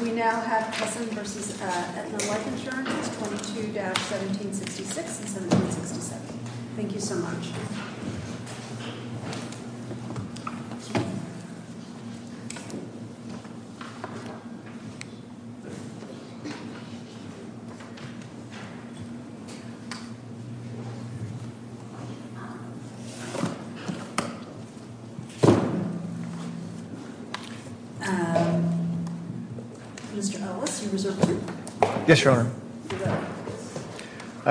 22-1766 and 1767 Thank you so much. Yes, your honor.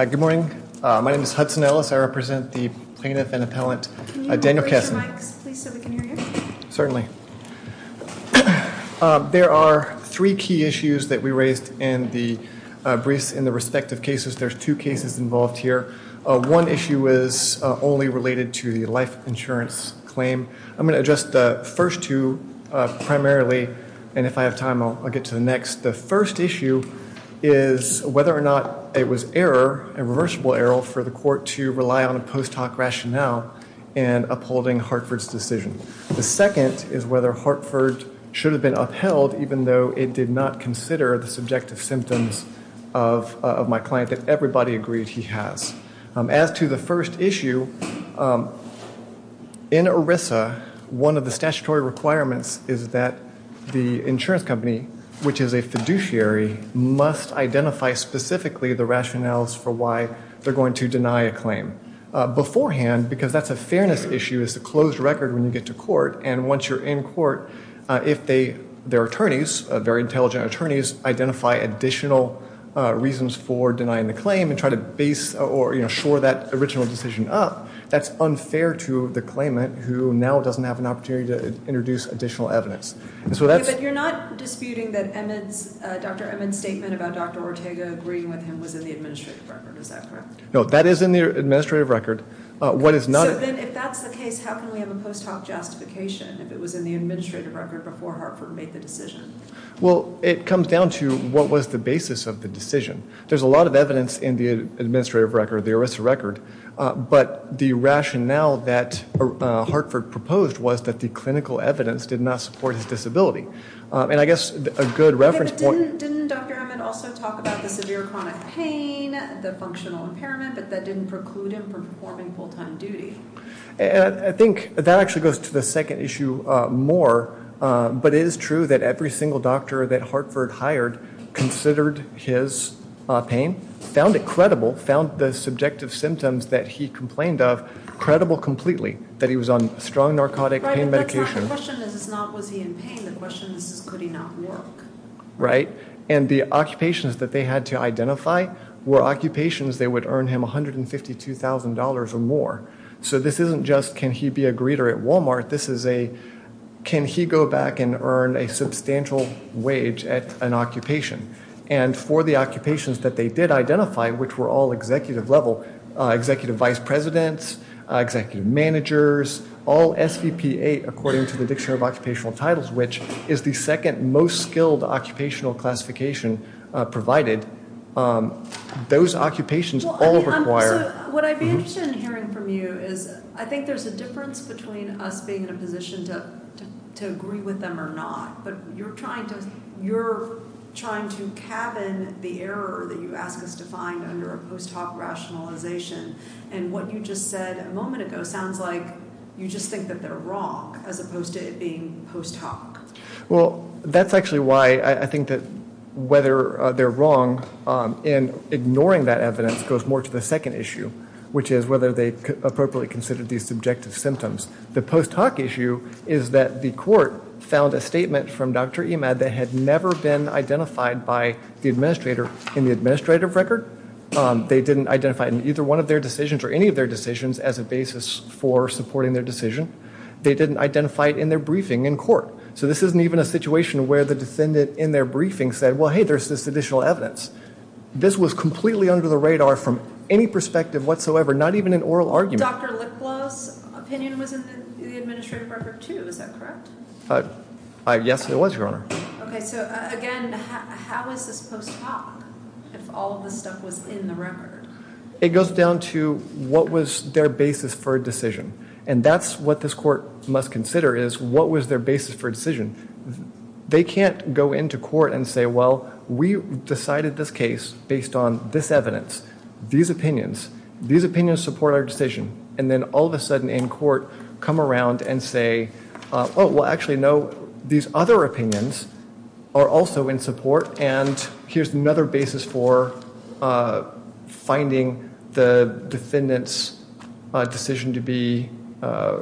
Good morning. My name is Hudson Ellis. I represent the plaintiff and appellant Daniel Kessler. Certainly. There are three key issues that we raised in the briefs in the respective cases. There's two cases involved here. One issue is only related to the life insurance claim. I'm going to address the first two primarily. And if I have time, I'll get to the next. The first issue is whether or not it was error and reversible error for the court to rely on a post hoc rationale and upholding Hartford's decision. The second is whether Hartford should have been upheld, even though it did not consider the subjective symptoms of my client that everybody agreed he has. As to the first issue, in ERISA, one of the statutory requirements is that the insurance company, which is a fiduciary, must identify specifically the rationales for why they're going to deny a claim beforehand, because that's a fairness issue is a closed record when you get to court. And once you're in court, if their attorneys, very intelligent attorneys, identify additional reasons for denying the claim and try to base or shore that original decision up, that's unfair to the claimant who now doesn't have an opportunity to introduce additional evidence. But you're not disputing that Dr. Emmons' statement about Dr. Ortega agreeing with him was in the administrative record. Is that correct? No, that is in the administrative record. So then if that's the case, how can we have a post hoc justification if it was in the administrative record before Hartford made the decision? Well, it comes down to what was the basis of the decision. There's a lot of evidence in the administrative record, the ERISA record, but the rationale that Hartford proposed was that the clinical evidence did not support his disability. Didn't Dr. Emmons also talk about the severe chronic pain, the functional impairment, but that didn't preclude him from performing full-time duty? I think that actually goes to the second issue more, but it is true that every single doctor that Hartford hired considered his pain, found it credible, found the subjective symptoms that he complained of credible completely, that he was on strong narcotic pain medication. The question is not was he in pain. The question is could he not work. Right. And the occupations that they had to identify were occupations that would earn him $152,000 or more. So this isn't just can he be a greeter at Walmart. This is a can he go back and earn a substantial wage at an occupation. And for the occupations that they did identify, which were all executive level, executive vice presidents, executive managers, all SVPA according to the Dictionary of Occupational Titles, which is the second most skilled occupational classification provided. Those occupations all require. What I'd be interested in hearing from you is I think there's a difference between us being in a position to agree with them or not. But you're trying to you're trying to cabin the error that you ask us to find under a post hoc rationalization. And what you just said a moment ago sounds like you just think that they're wrong as opposed to it being post hoc. Well, that's actually why I think that whether they're wrong in ignoring that evidence goes more to the second issue, which is whether they appropriately considered these subjective symptoms. The post hoc issue is that the court found a statement from Dr. Emad that had never been identified by the administrator in the administrative record. They didn't identify in either one of their decisions or any of their decisions as a basis for supporting their decision. They didn't identify it in their briefing in court. So this isn't even a situation where the defendant in their briefing said, well, hey, there's this additional evidence. This was completely under the radar from any perspective whatsoever. Not even an oral argument. Dr. Licklaw's opinion was in the administrative record, too. Is that correct? Yes, it was, Your Honor. Okay. So, again, how is this post hoc if all of this stuff was in the record? It goes down to what was their basis for a decision. And that's what this court must consider is what was their basis for a decision. They can't go into court and say, well, we decided this case based on this evidence, these opinions. These opinions support our decision. And then all of a sudden in court come around and say, oh, well, actually, no, these other opinions are also in support. And here's another basis for finding the defendant's decision to be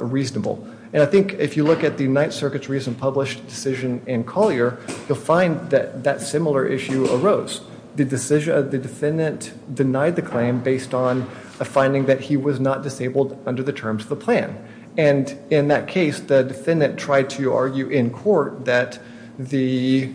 reasonable. And I think if you look at the Ninth Circuit's recent published decision in Collier, you'll find that that similar issue arose. The defendant denied the claim based on a finding that he was not disabled under the terms of the plan. And in that case, the defendant tried to argue in court that it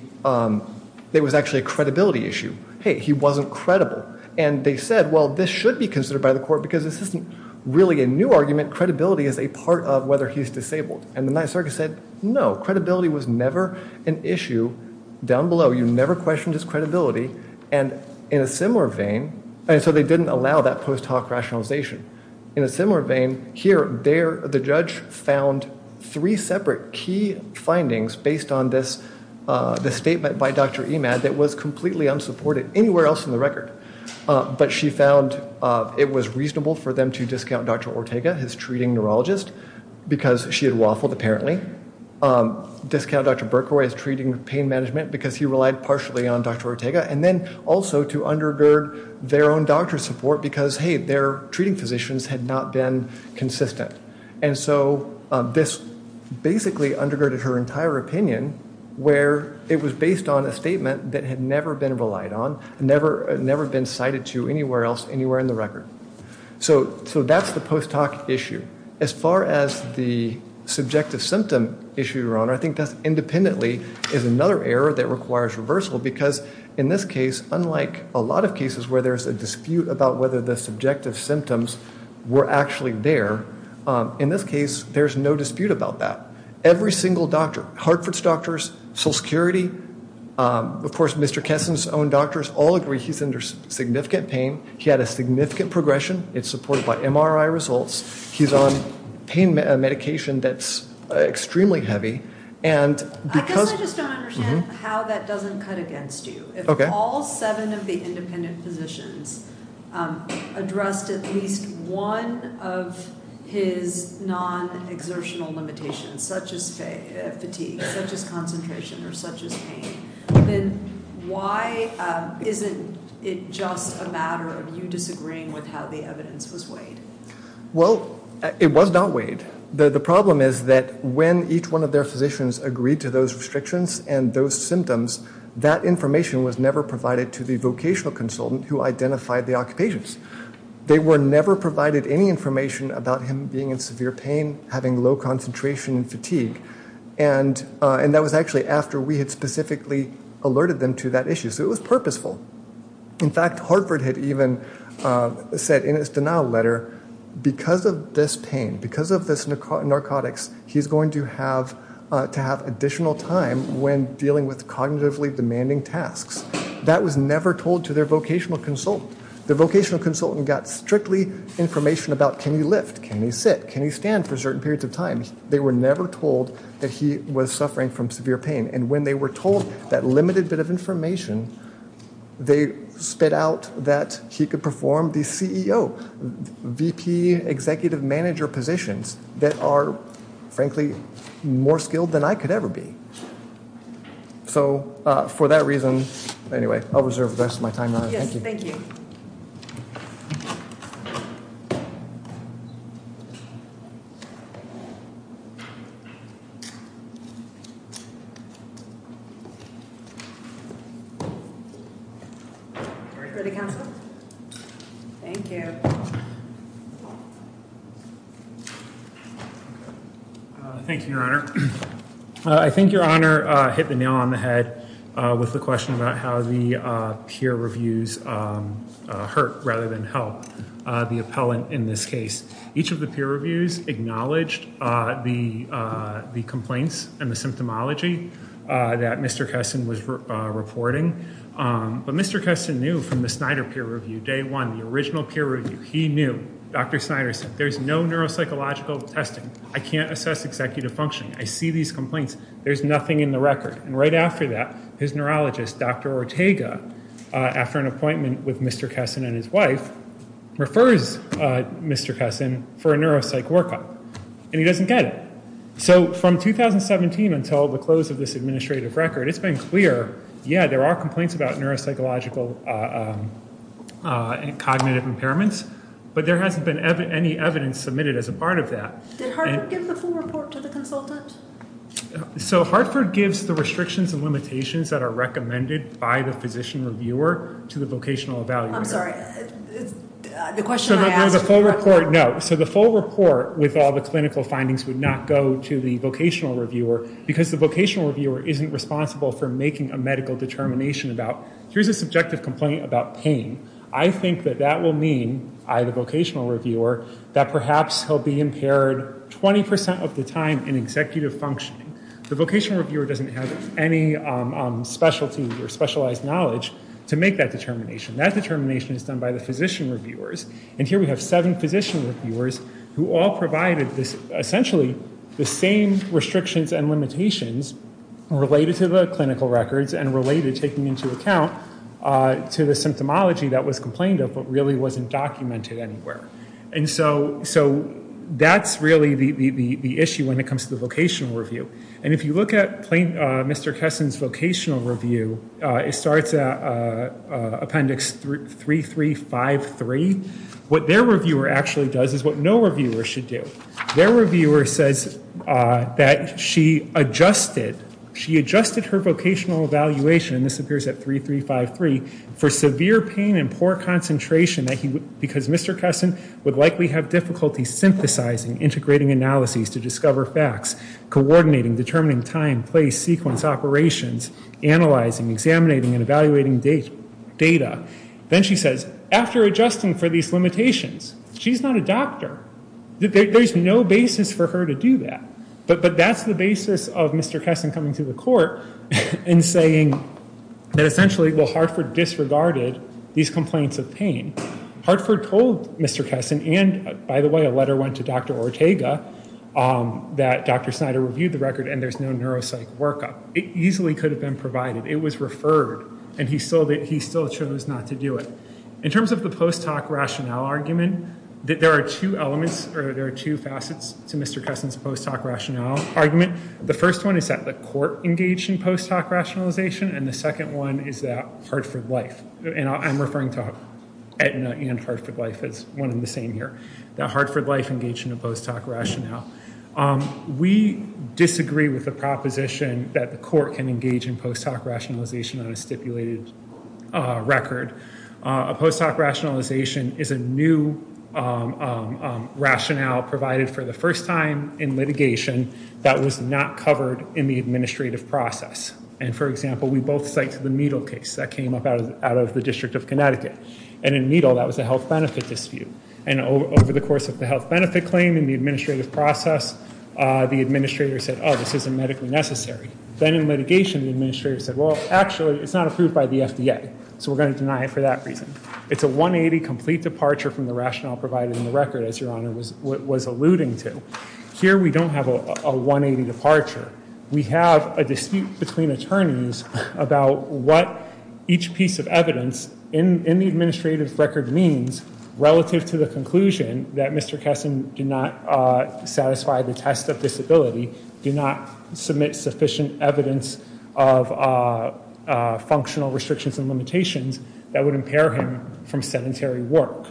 was actually a credibility issue. Hey, he wasn't credible. And they said, well, this should be considered by the court because this isn't really a new argument. Credibility is a part of whether he's disabled. And the Ninth Circuit said, no, credibility was never an issue down below. You never questioned his credibility. And in a similar vein, and so they didn't allow that post hoc rationalization. In a similar vein, here, the judge found three separate key findings based on this statement by Dr. Emad that was completely unsupported anywhere else in the record. But she found it was reasonable for them to discount Dr. Ortega, his treating neurologist, because she had waffled apparently. Discount Dr. Berkowitz's treating pain management because he relied partially on Dr. Ortega. And then also to undergird their own doctor support because, hey, their treating physicians had not been consistent. And so this basically undergirded her entire opinion where it was based on a statement that had never been relied on, never been cited to anywhere else, anywhere in the record. So that's the post hoc issue. As far as the subjective symptom issue, Your Honor, I think that independently is another error that requires reversal. Because in this case, unlike a lot of cases where there's a dispute about whether the subjective symptoms were actually there, in this case, there's no dispute about that. Every single doctor, Hartford's doctors, Social Security, of course, Mr. Kesson's own doctors all agree he's under significant pain. He had a significant progression. It's supported by MRI results. He's on pain medication that's extremely heavy. And because- I guess I just don't understand how that doesn't cut against you. If all seven of the independent physicians addressed at least one of his non-exertional limitations, such as fatigue, such as concentration, or such as pain, then why isn't it just a matter of you disagreeing with how the evidence was weighed? Well, it was not weighed. The problem is that when each one of their physicians agreed to those restrictions and those symptoms, that information was never provided to the vocational consultant who identified the occupations. They were never provided any information about him being in severe pain, having low concentration, and fatigue. And that was actually after we had specifically alerted them to that issue. So it was purposeful. In fact, Hartford had even said in his denial letter, because of this pain, because of this narcotics, he's going to have to have additional time when dealing with cognitively demanding tasks. That was never told to their vocational consultant. The vocational consultant got strictly information about can you lift, can you sit, can you stand for certain periods of time. They were never told that he was suffering from severe pain. And when they were told that limited bit of information, they spit out that he could perform the CEO, VP, executive manager positions that are, frankly, more skilled than I could ever be. So for that reason, anyway, I'll reserve the rest of my time now. Thank you. Thank you, Your Honor. I think Your Honor hit the nail on the head with the question about how the peer reviews hurt rather than help the appellant in this case. Each of the peer reviews acknowledged the complaints and the symptomology that Mr. Kesson was reporting. But Mr. Kesson knew from the Snyder peer review, day one, the original peer review, he knew. Dr. Snyder said, there's no neuropsychological testing. I can't assess executive functioning. I see these complaints. There's nothing in the record. And right after that, his neurologist, Dr. Ortega, after an appointment with Mr. Kesson and his wife, refers Mr. Kesson for a neuropsych workup, and he doesn't get it. So from 2017 until the close of this administrative record, it's been clear, yeah, there are complaints about neuropsychological and cognitive impairments, but there hasn't been any evidence submitted as a part of that. Did Hartford give the full report to the consultant? So Hartford gives the restrictions and limitations that are recommended by the physician reviewer to the vocational evaluator. I'm sorry. The question I asked was about the report. No. So the full report with all the clinical findings would not go to the vocational reviewer because the vocational reviewer isn't responsible for making a medical determination about, here's a subjective complaint about pain. I think that that will mean, I, the vocational reviewer, that perhaps he'll be impaired 20% of the time in executive functioning. The vocational reviewer doesn't have any specialty or specialized knowledge to make that determination. That determination is done by the physician reviewers. And here we have seven physician reviewers who all provided essentially the same restrictions and limitations related to the clinical records and related, taking into account, to the symptomology that was complained of but really wasn't documented anywhere. And so that's really the issue when it comes to the vocational review. And if you look at Mr. Kesson's vocational review, it starts at appendix 3353. What their reviewer actually does is what no reviewer should do. Their reviewer says that she adjusted her vocational evaluation, and this appears at 3353, for severe pain and poor concentration because Mr. Kesson would likely have difficulty synthesizing, integrating analyses to discover facts, coordinating, determining time, place, sequence, operations, analyzing, examining, and evaluating data. Then she says, after adjusting for these limitations, she's not a doctor. There's no basis for her to do that. But that's the basis of Mr. Kesson coming to the court and saying that essentially, well, Hartford disregarded these complaints of pain. Hartford told Mr. Kesson, and by the way, a letter went to Dr. Ortega, that Dr. Snyder reviewed the record and there's no neuropsych workup. It easily could have been provided. It was referred, and he still chose not to do it. In terms of the post hoc rationale argument, there are two elements, or there are two facets to Mr. Kesson's post hoc rationale argument. The first one is that the court engaged in post hoc rationalization, and the second one is that Hartford Life, and I'm referring to Aetna and Hartford Life as one and the same here, that Hartford Life engaged in a post hoc rationale. We disagree with the proposition that the court can engage in post hoc rationalization on a stipulated record. A post hoc rationalization is a new rationale provided for the first time in litigation that was not covered in the administrative process. And, for example, we both cite the Needle case that came up out of the District of Connecticut. And in Needle, that was a health benefit dispute. And over the course of the health benefit claim and the administrative process, the administrator said, oh, this isn't medically necessary. Then in litigation, the administrator said, well, actually, it's not approved by the FDA, so we're going to deny it for that reason. It's a 180 complete departure from the rationale provided in the record, as Your Honor was alluding to. Here we don't have a 180 departure. We have a dispute between attorneys about what each piece of evidence in the administrative record means relative to the conclusion that Mr. Kessin did not satisfy the test of disability, did not submit sufficient evidence of functional restrictions and limitations that would impair him from sedentary work.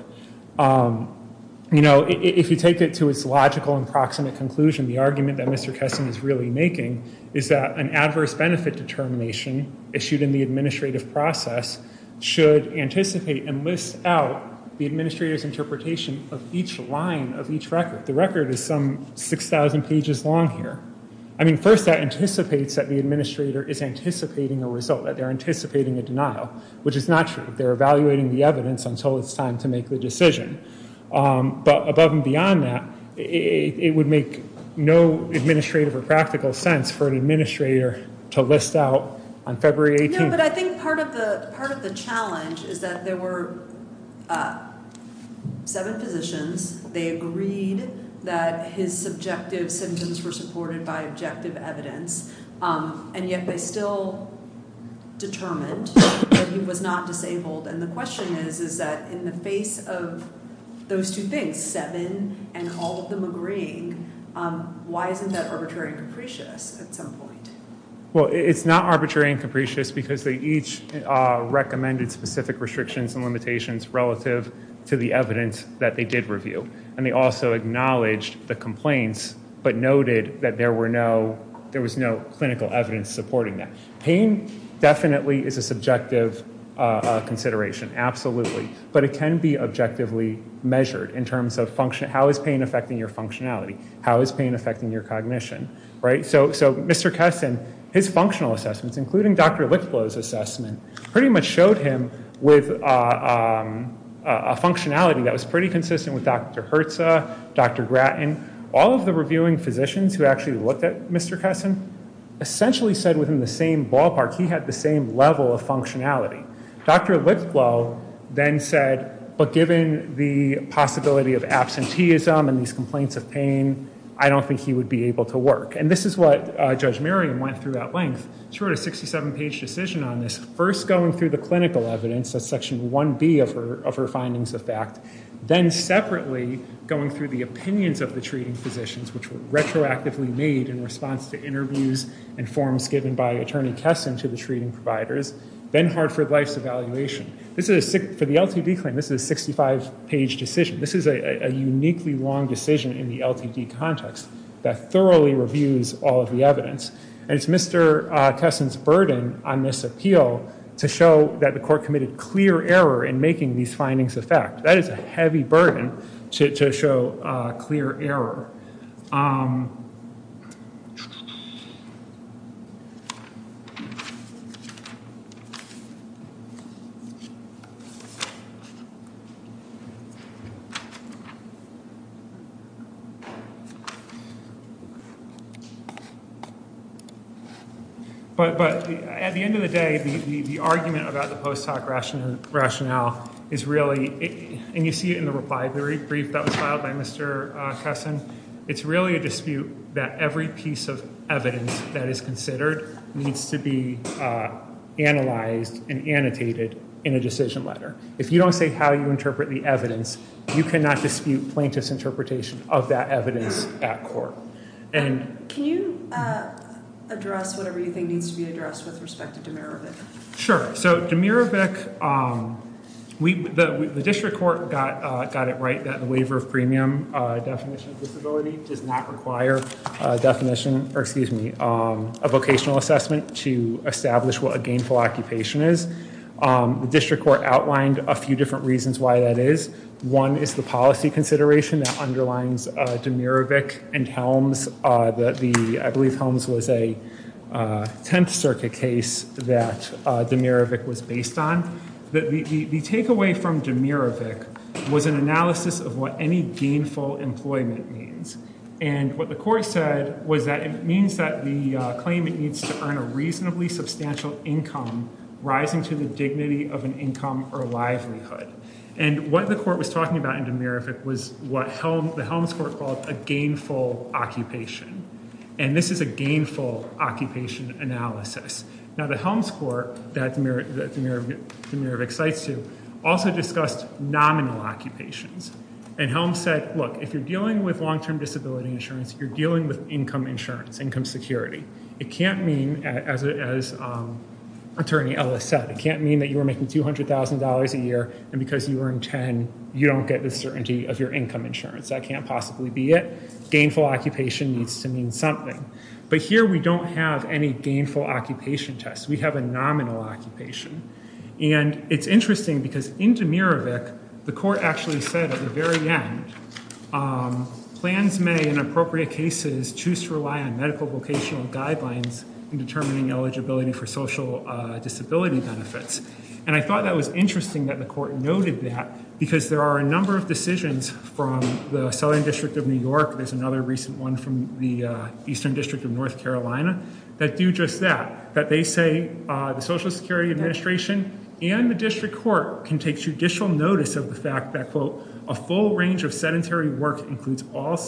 You know, if you take it to its logical and proximate conclusion, the argument that Mr. Kessin is really making is that an adverse benefit determination issued in the administrative process should anticipate and list out the administrator's interpretation of each line of each record. The record is some 6,000 pages long here. I mean, first that anticipates that the administrator is anticipating a result, that they're anticipating a denial, which is not true. They're evaluating the evidence until it's time to make the decision. But above and beyond that, it would make no administrative or practical sense for an administrator to list out on February 18th. But I think part of the challenge is that there were seven positions. They agreed that his subjective symptoms were supported by objective evidence, and yet they still determined that he was not disabled. And the question is, is that in the face of those two things, seven and all of them agreeing, why isn't that arbitrary and capricious at some point? Well, it's not arbitrary and capricious because they each recommended specific restrictions and limitations relative to the evidence that they did review. And they also acknowledged the complaints but noted that there was no clinical evidence supporting that. Pain definitely is a subjective consideration, absolutely, but it can be objectively measured in terms of how is pain affecting your functionality, how is pain affecting your cognition, right? So Mr. Kessin, his functional assessments, including Dr. Litlow's assessment, pretty much showed him with a functionality that was pretty consistent with Dr. Herza, Dr. Gratton. All of the reviewing physicians who actually looked at Mr. Kessin essentially said within the same ballpark he had the same level of functionality. Dr. Litlow then said, but given the possibility of absenteeism and these complaints of pain, I don't think he would be able to work. And this is what Judge Merriam went through at length. She wrote a 67-page decision on this, first going through the clinical evidence, that's Section 1B of her findings of fact, then separately going through the opinions of the treating physicians, which were retroactively made in response to interviews and forms given by Attorney Kessin to the treating providers, then Hartford Life's evaluation. For the LTD claim, this is a 65-page decision. This is a uniquely long decision in the LTD context that thoroughly reviews all of the evidence. And it's Mr. Kessin's burden on this appeal to show that the court committed clear error in making these findings of fact. That is a heavy burden to show clear error. But at the end of the day, the argument about the post hoc rationale is really, and you see it in the reply brief that was filed by Mr. Kessin, it's really a dispute that every piece of evidence that is considered needs to be analyzed and annotated in a decision letter. If you don't say how you interpret the evidence, you cannot dispute plaintiff's interpretation of that evidence at court. Can you address whatever you think needs to be addressed with respect to Demirovic? Sure. So Demirovic, the district court got it right that the waiver of premium definition of disability does not require a definition, or excuse me, a vocational assessment to establish what a gainful occupation is. The district court outlined a few different reasons why that is. One is the policy consideration that underlines Demirovic and Helms. I believe Helms was a 10th Circuit case that Demirovic was based on. The takeaway from Demirovic was an analysis of what any gainful employment means. And what the court said was that it means that the claimant needs to earn a reasonably substantial income rising to the dignity of an income or livelihood. And what the court was talking about in Demirovic was what the Helms court called a gainful occupation. And this is a gainful occupation analysis. Now the Helms court that Demirovic cites to also discussed nominal occupations. And Helms said, look, if you're dealing with long-term disability insurance, you're dealing with income insurance, income security. It can't mean, as attorney Ellis said, it can't mean that you are making $200,000 a year and because you earn 10, you don't get the certainty of your income insurance. That can't possibly be it. Gainful occupation needs to mean something. But here we don't have any gainful occupation test. We have a nominal occupation. And it's interesting because in Demirovic, the court actually said at the very end, plans may in appropriate cases choose to rely on medical vocational guidelines in determining eligibility for social disability benefits. And I thought that was interesting that the court noted that because there are a number of decisions from the Southern District of New York. There's another recent one from the Eastern District of North Carolina that do just that. That they say the Social Security Administration and the district court can take judicial notice of the fact that, quote, a full range of sedentary work includes all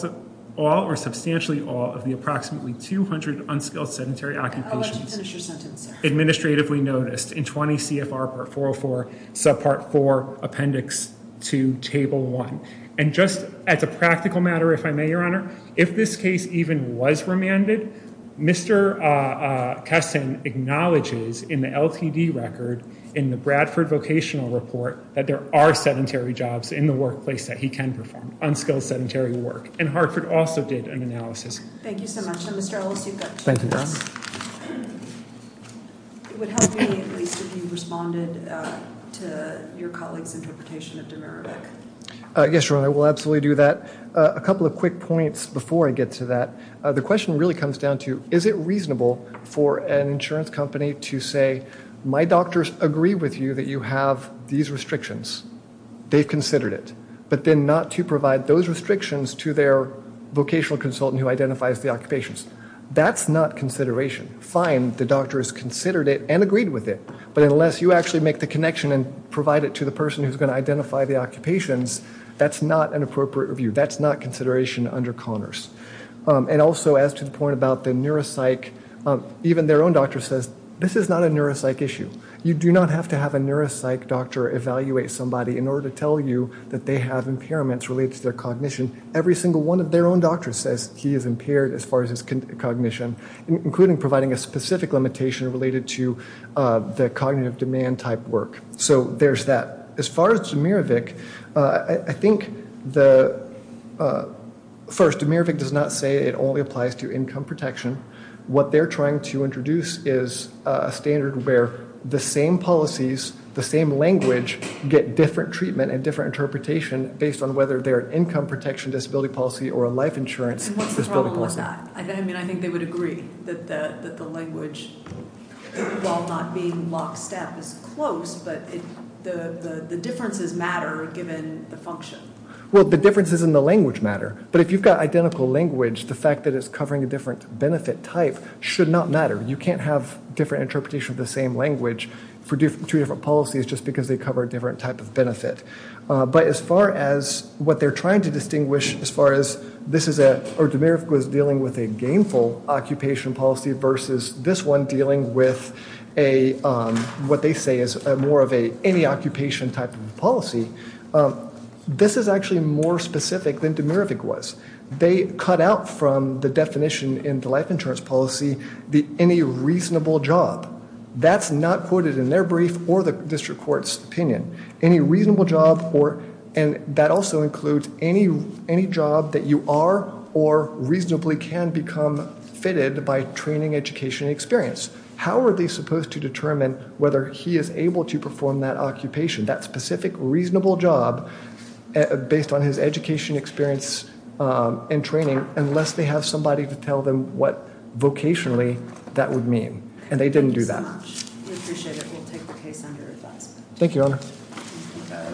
or substantially all of the approximately 200 unskilled sedentary occupations. I'll let you finish your sentence, sir. Administratively noticed in 20 CFR part 404, subpart 4, appendix 2, table 1. And just as a practical matter, if I may, Your Honor, if this case even was remanded, Mr. Kessin acknowledges in the LTD record in the Bradford vocational report that there are sedentary jobs in the workplace that he can perform, unskilled sedentary work. And Hartford also did an analysis. Thank you so much. Mr. Ellis, you've got two minutes. Thank you, Your Honor. It would help me at least if you responded to your colleague's interpretation of Demirovic. Yes, Your Honor, I will absolutely do that. A couple of quick points before I get to that. The question really comes down to, is it reasonable for an insurance company to say, my doctors agree with you that you have these restrictions? They've considered it. But then not to provide those restrictions to their vocational consultant who identifies the occupations. That's not consideration. Fine, the doctor has considered it and agreed with it. But unless you actually make the connection and provide it to the person who's going to identify the occupations, that's not an appropriate review. That's not consideration under Connors. And also, as to the point about the neuropsych, even their own doctor says, this is not a neuropsych issue. You do not have to have a neuropsych doctor evaluate somebody in order to tell you that they have impairments related to their cognition. Every single one of their own doctors says he is impaired as far as his cognition, including providing a specific limitation related to the cognitive demand type work. So there's that. As far as Demirovic, I think, first, Demirovic does not say it only applies to income protection. What they're trying to introduce is a standard where the same policies, the same language, get different treatment and different interpretation based on whether they're an income protection disability policy or a life insurance disability policy. And what's the problem with that? I mean, I think they would agree that the language, while not being lockstep, is close. But the differences matter given the function. Well, the differences in the language matter. But if you've got identical language, the fact that it's covering a different benefit type should not matter. You can't have different interpretation of the same language for two different policies just because they cover a different type of benefit. But as far as what they're trying to distinguish, as far as Demirovic was dealing with a gainful occupation policy versus this one dealing with what they say is more of any occupation type of policy, this is actually more specific than Demirovic was. They cut out from the definition in the life insurance policy any reasonable job. That's not quoted in their brief or the district court's opinion. Any reasonable job, and that also includes any job that you are or reasonably can become fitted by training, education, and experience. How are they supposed to determine whether he is able to perform that occupation, that specific reasonable job based on his education, experience, and training, unless they have somebody to tell them what vocationally that would mean? And they didn't do that. Thank you so much. We appreciate it. We'll take the case under advisement. Thank you, Your Honor.